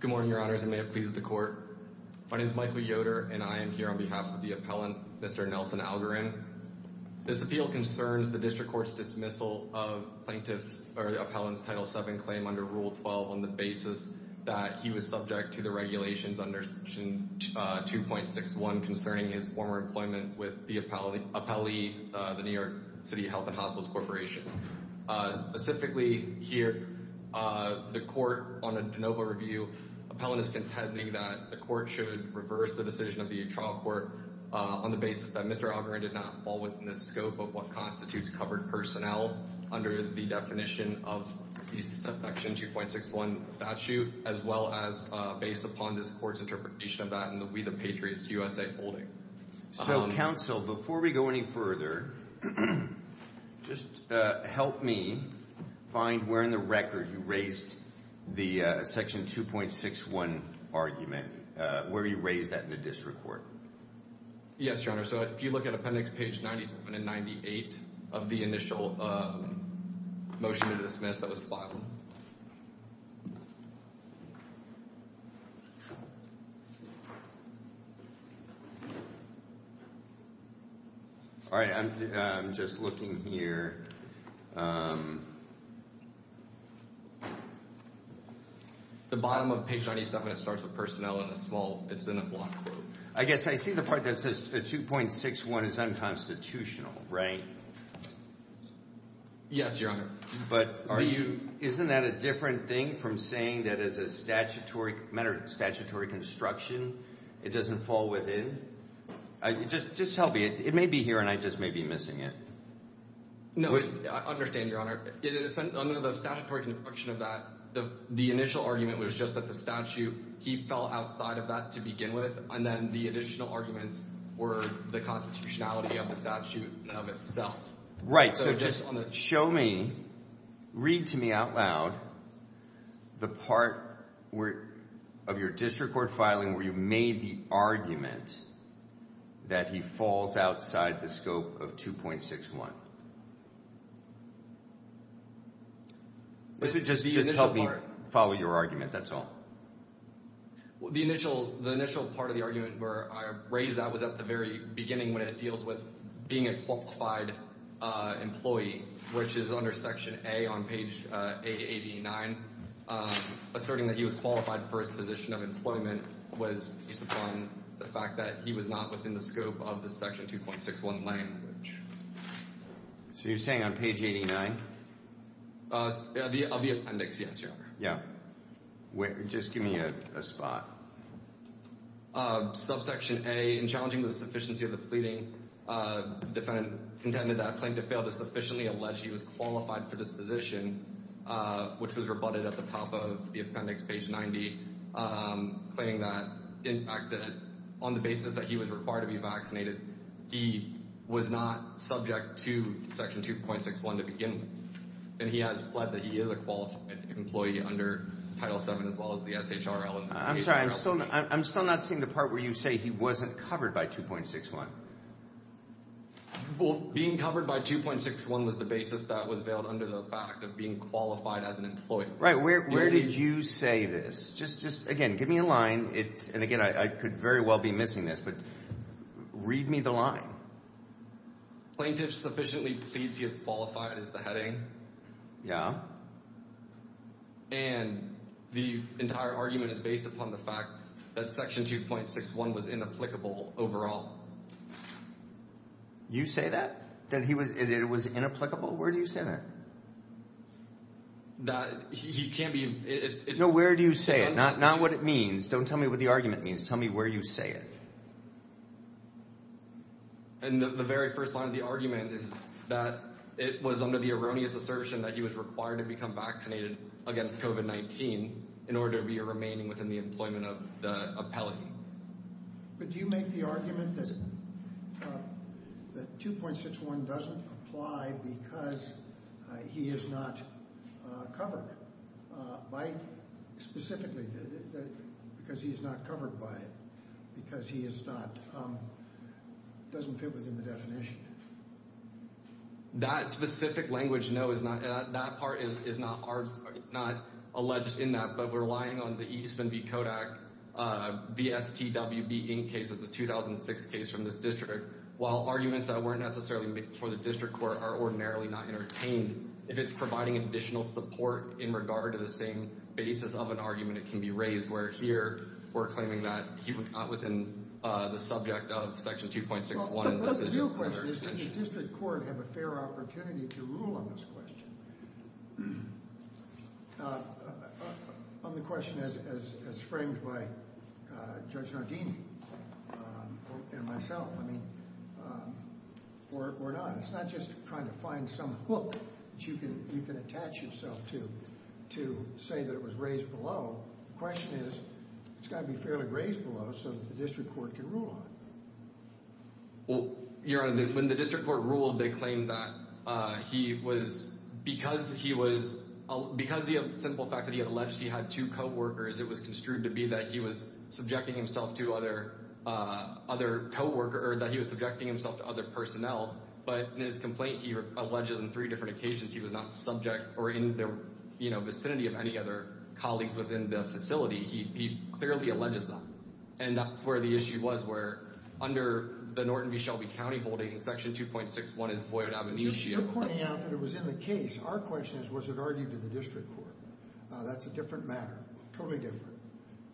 Good morning, your honors, and may it please the court. My name is Michael Yoder, and I am here on behalf of the appellant, Mr. Nelson Algarin. This appeal concerns the district court's dismissal of plaintiff's, or the appellant's Title VII claim under Rule 12 on the basis that he was subject to the regulations under Section 2.61 concerning his former employment with the appellee, the New York City Health and Hospitals Corporation. Specifically here, the court, on a de novo review, appellant is contending that the court should reverse the decision of the trial court on the basis that Mr. Algarin did not fall within the scope of what constitutes covered personnel under the definition of the Section 2.61 statute, as well as based upon this court's interpretation of that in the We the Patriots USA holding. So, counsel, before we go any further, just help me find where in the record you raised the Section 2.61 argument, where you raised that in the district court. Yes, your honor, so if you look at appendix page 97 and 98 of the initial motion to dismiss that was filed. All right, I'm just looking here. The bottom of page 97, it starts with personnel in a small, it's in a block group. I guess I see the part that says 2.61 is unconstitutional, right? Yes, your honor. But aren't you, isn't that a different thing from saying that as a statutory, matter of statutory construction, it doesn't fall within? Just tell me, it may be here and I just may be missing it. No, I understand, your honor. It is under the statutory construction of that, the initial argument was just that the statute, he fell outside of that to begin with, and then the additional arguments were the constitutionality of the statute of itself. Right, so just show me, read to me out loud, the part of your district court filing where you've made the argument that he falls outside the scope of 2.61. Just help me follow your argument, that's all. The initial part of the argument where I raised that was at the very beginning when it deals with being a qualified employee, which is under section A on page 889, asserting that he was qualified for his position of employment was based upon the fact that he was not within the scope of the section 2.61 language. So you're saying on page 889? Of the appendix, yes, your honor. Yeah, just give me a spot. Subsection A, in challenging the sufficiency of the pleading, defendant contended that a claim to fail to sufficiently allege he was qualified for this position, which was rebutted at the top of the appendix, page 90, claiming that, in fact, that on the basis that he was required to be vaccinated, he was not subject to section 2.61 to begin with, and he has pled that he is a qualified employee under Title VII as well as the SHRL. I'm sorry, I'm still not seeing the part where you say he wasn't covered by 2.61. Well, being covered by 2.61 was the basis that was veiled under the fact of being qualified as an employee. Right, where did you say this? Again, give me a line. And again, I could very well be missing this, but read me the line. Plaintiff sufficiently pleads he is qualified as the heading. Yeah. And the entire argument is based upon the fact that section 2.61 was inapplicable overall. You say that? That it was inapplicable? Where do you say that? That he can't be... No, where do you say it? Not what it means. Don't tell me what the argument means. Tell me where you say it. And the very first line of the argument is that it was under the erroneous assertion that he was required to become vaccinated against COVID-19 in order to be a remaining within the employment of the appellate. But do you make the argument that 2.61 doesn't apply because he is not covered? By, specifically, because he is not covered by it? Because he is not, doesn't fit within the definition? That specific language, no, is not, that part is not alleged in that, but we're relying on the Eastman v. Kodak, VSTWB Inc. case of the 2006 case from this district. While arguments that weren't necessarily for the district court are ordinarily not entertained, if it's providing additional support in regard to the same basis of an argument, it can be raised where here, we're claiming that he was not within the subject of section 2.61 in the decision. Well, but what's the real question? Does the district court have a fair opportunity to rule on this question? On the question as framed by Judge Nardini and myself, I mean, or not. It's not just trying to find some hook that you can attach yourself to to say that it was raised below. The question is, it's gotta be fairly raised below so that the district court can rule on it. Well, Your Honor, when the district court ruled, they claimed that he was, because he was, because of the simple fact that he had alleged he had two co-workers, it was construed to be that he was subjecting himself to other co-worker, or that he was subjecting himself to other personnel, but in his complaint, he alleges on three different occasions he was not subject or in the vicinity of any other colleagues within the facility. He clearly alleges that. And that's where the issue was, where under the Norton v. Shelby County holding, section 2.61 is void ab initio. You're pointing out that it was in the case. Our question is, was it argued to the district court? That's a different matter, totally different.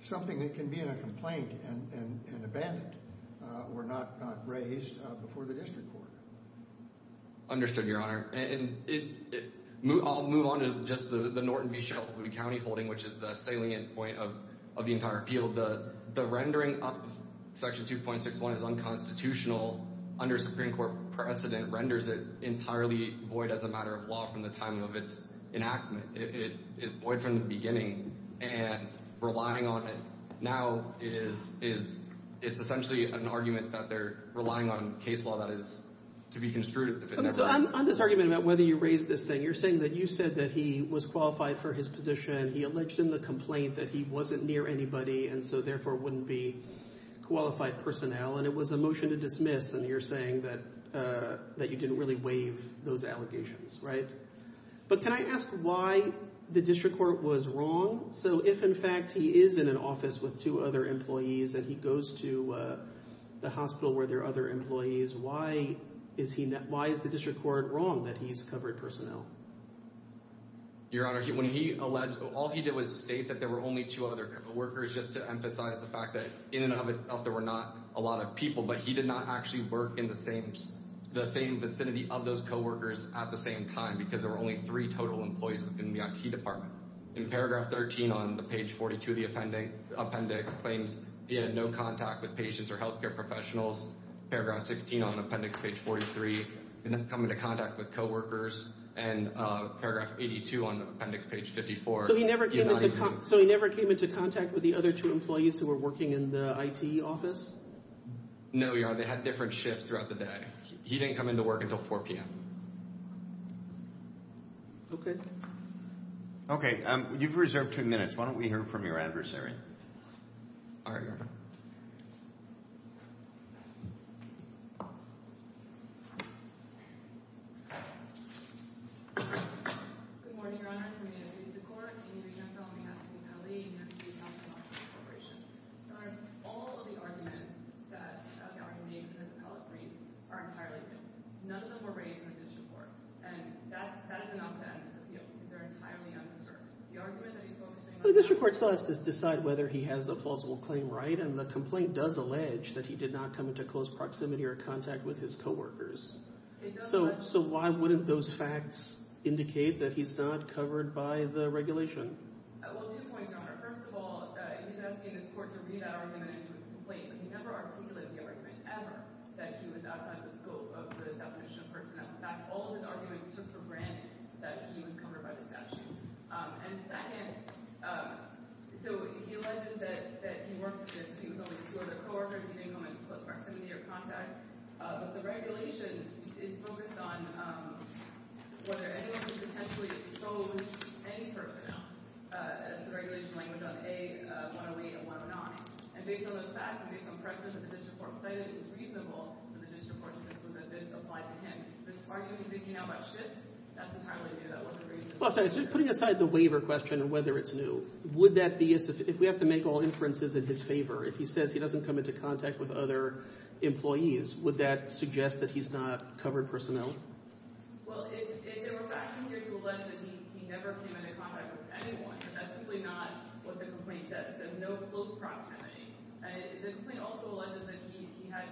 Something that can be in a complaint and abandoned, or not raised before the district court. Understood, Your Honor. I'll move on to just the Norton v. Shelby County holding, which is the salient point of the entire appeal. The rendering of section 2.61 is unconstitutional under Supreme Court precedent, renders it entirely void as a matter of law from the time of its enactment. It's void from the beginning, and relying on it now is, it's essentially an argument that they're relying on case law that is to be construed if it never happened. On this argument about whether you raised this thing, you're saying that you said that he was qualified for his position, he alleged in the complaint that he wasn't near anybody, and so therefore wouldn't be qualified personnel, and it was a motion to dismiss, and you're saying that you didn't really waive those allegations, right? But can I ask why the district court was wrong? So if, in fact, he is in an office with two other employees, and he goes to the hospital where there are other employees, why is the district court wrong that he's covered personnel? Your Honor, when he alleged, all he did was state that there were only two other co-workers, just to emphasize the fact that in and of itself there were not a lot of people, but he did not actually work in the same vicinity of those co-workers at the same time, because there were only three total employees within the IT department. In paragraph 13 on the page 42 of the appendix claims he had no contact with patients or healthcare professionals. Paragraph 16 on appendix page 43, did not come into contact with co-workers, and paragraph 82 on appendix page 54. So he never came into contact with the other two employees who were working in the IT office? No, Your Honor, they had different shifts throughout the day. He didn't come into work until 4 p.m. Okay. Okay, you've reserved two minutes. Why don't we hear from your adversary? All right, Your Honor. Good morning, Your Honor. I'm here to speak to the court. I'm here to speak on behalf of the employee and I'm here to speak on behalf of the corporation. Your Honor, all of the arguments that the argument made in this appellate brief are entirely true. None of them were raised in the district court, and that is enough to end this appeal. They're entirely unreserved. The argument that he spoke to... The district court still has to decide whether he has a falsible claim right, and the complaint does allege that he did not come into close proximity or contact with his co-workers. So why wouldn't those facts indicate that he's not covered by the regulation? Well, two points, Your Honor. First of all, he designated his court to read that argument into his complaint, but he never articulated the argument ever that he was outside the scope of the definition of personnel. In fact, all of his arguments took for granted that he was covered by the statute. And second, so he alleges that he worked with, he was only with two other co-workers, he didn't come into close proximity or contact, but the regulation is focused on whether anyone could potentially expose any personnel as the regulation language on A-108 and 109. And based on those facts, and based on practice that the district court cited, it was reasonable for the district court to conclude that this applied to him. This argument he's making now about Schitt's, that's entirely new, that wasn't recent. Well, sorry, so putting aside the waiver question and whether it's new, would that be, if we have to make all inferences in his favor, if he says he doesn't come into contact with other employees, would that suggest that he's not covered personnel? Well, if there were facts in here to allege that he never came into contact with anyone, that's simply not what the complaint says. There's no close proximity. The complaint also alleges that he had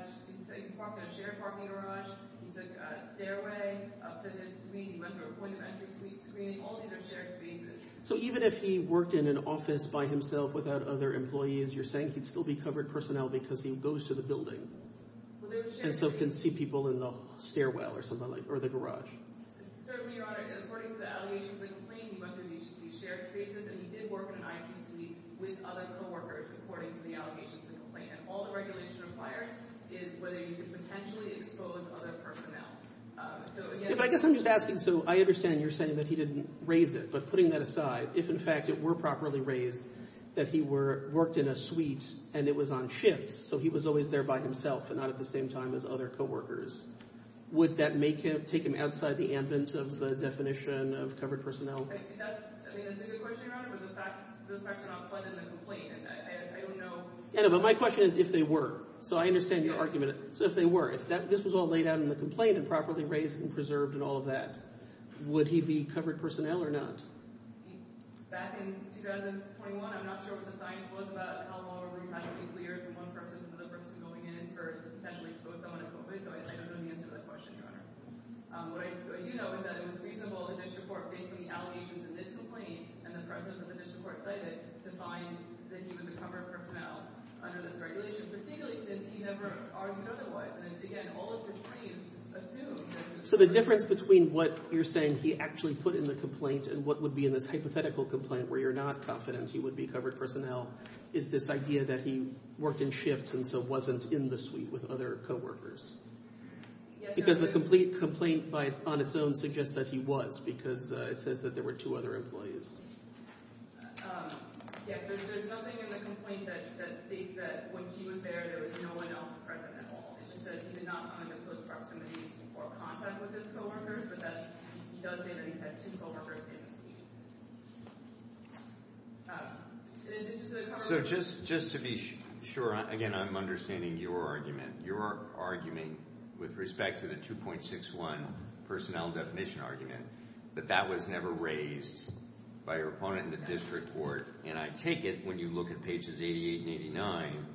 shared parking garage, he took a stairway up to his suite, he went through a point of entry suite, screening, all these are shared spaces. So even if he worked in an office by himself without other employees, you're saying he'd still be covered personnel because he goes to the building? Well, there was shared. And so can see people in the stairwell or something like, or the garage? Certainly, Your Honor, according to the allegations of the complaint, he went through these shared spaces and he did work in an IT suite with other co-workers, according to the allegations of the complaint. And all the regulation requires is whether he could potentially expose other personnel. So again- But I guess I'm just asking, so I understand you're saying that he didn't raise it, but putting that aside, if in fact it were properly raised, that he worked in a suite and it was on shifts, so he was always there by himself and not at the same time as other co-workers, would that take him outside the ambit of the definition of covered personnel? I mean, that's a good question, Your Honor, but the facts are not set in the complaint. And I don't know- Yeah, but my question is if they were. So I understand your argument. So if they were, if this was all laid out in the complaint and properly raised and preserved and all of that, would he be covered personnel or not? Back in 2021, I'm not sure what the science was about how long a room has to be cleared for one person for the person going in in order to potentially expose someone to COVID. So I don't know the answer to that question, Your Honor. What I do know is that it was reasonable in this report, based on the allegations in this complaint and the precedent that this report cited, to find that he was a covered personnel under this regulation, particularly since he never argued otherwise. And again, all of the claims assume that- So the difference between what you're saying he actually put in the complaint and what would be in this hypothetical complaint where you're not confident he would be covered personnel is this idea that he worked in shifts and so wasn't in the suite with other co-workers. Because the complete complaint on its own suggests that he was, because it says that there were two other employees. Yeah, there's nothing in the complaint that states that when she was there, there was no one else present at all. It just says he did not come into close proximity or contact with his co-workers, but that he does say that he had two co-workers in his suite. So just to be sure, again, I'm understanding your argument. Your argument with respect to the 2.61 personnel definition argument, that that was never raised by your opponent in the district court. And I take it when you look at pages 88 and 89,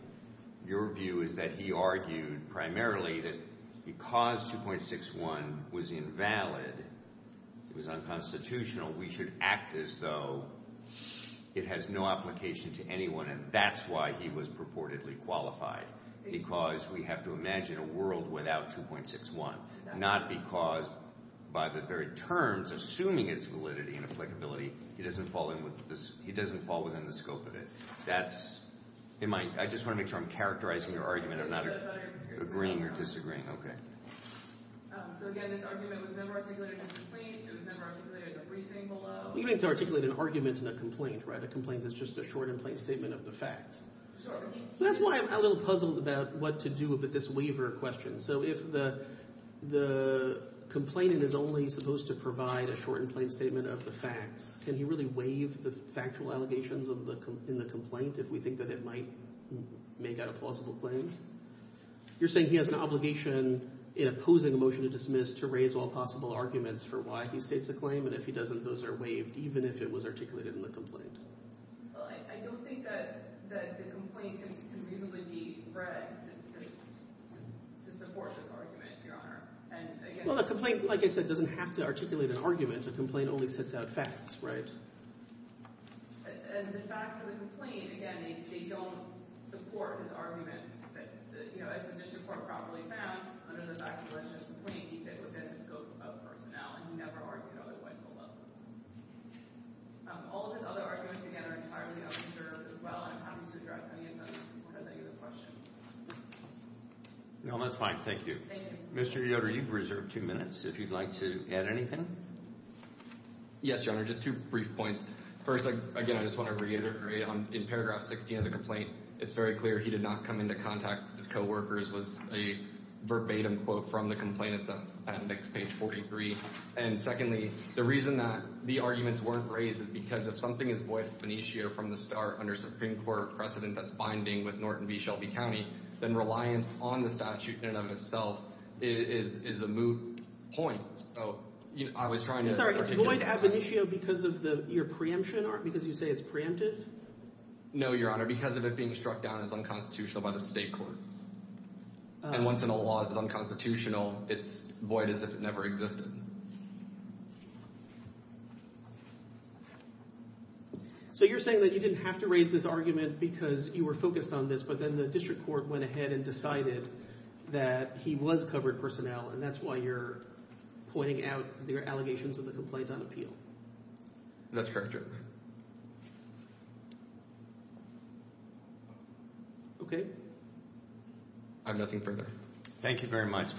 your view is that he argued primarily that because 2.61 was invalid, it was unconstitutional, we should act as though it has no application to anyone. And that's why he was purportedly qualified. Because we have to imagine a world without 2.61, not because by the very terms, assuming its validity and applicability, he doesn't fall within the scope of it. That's in my, I just want to make sure I'm characterizing your argument, I'm not agreeing or disagreeing, okay. So again, this argument was never articulated in a complaint, it was never articulated in a briefing below. We need to articulate an argument in a complaint, right? A complaint is just a short and plain statement of the facts. That's why I'm a little puzzled about what to do with this waiver question. So if the complainant is only supposed to provide a short and plain statement of the facts, can he really waive the factual allegations in the complaint if we think that it might make out a plausible claim? You're saying he has an obligation in opposing a motion to dismiss to raise all possible arguments for why he states a claim, and if he doesn't, those are waived, even if it was articulated in the complaint. Well, I don't think that the complaint can reasonably be read to support this argument, Your Honor, and again- Well, the complaint, like I said, doesn't have to articulate an argument. A complaint only sets out facts, right? And the facts of the complaint, again, they don't support his argument that, you know, if the mission report properly found under the factualization of the complaint, he fit within the scope of personnel, and he never argued otherwise. All of his other arguments, again, are entirely unreserved as well, and I'm happy to address any of those if you have any other questions. No, that's fine, thank you. Mr. Yoder, you've reserved two minutes, if you'd like to add anything. Yes, Your Honor, just two brief points. First, again, I just want to reiterate, in paragraph 16 of the complaint, it's very clear he did not come into contact with his coworkers, was a verbatim quote from the complainant's appendix, page 43, and secondly, the reason that the arguments weren't raised is because if something is void ab initio from the start under Supreme Court precedent that's binding with Norton v. Shelby County, then reliance on the statute in and of itself is a moot point, so, you know, I was trying to. I'm sorry, it's void ab initio because of the, your preemption, because you say it's preempted? No, Your Honor, because of it being struck down as unconstitutional by the state court. And once in a law it's unconstitutional, it's void as if it never existed. So you're saying that you didn't have to raise this argument because you were focused on this, but then the district court went ahead and decided that he was covered personnel, and that's why you're pointing out the allegations of the complaint on appeal? That's correct, Your Honor. Okay. I have nothing further. Thank you very much.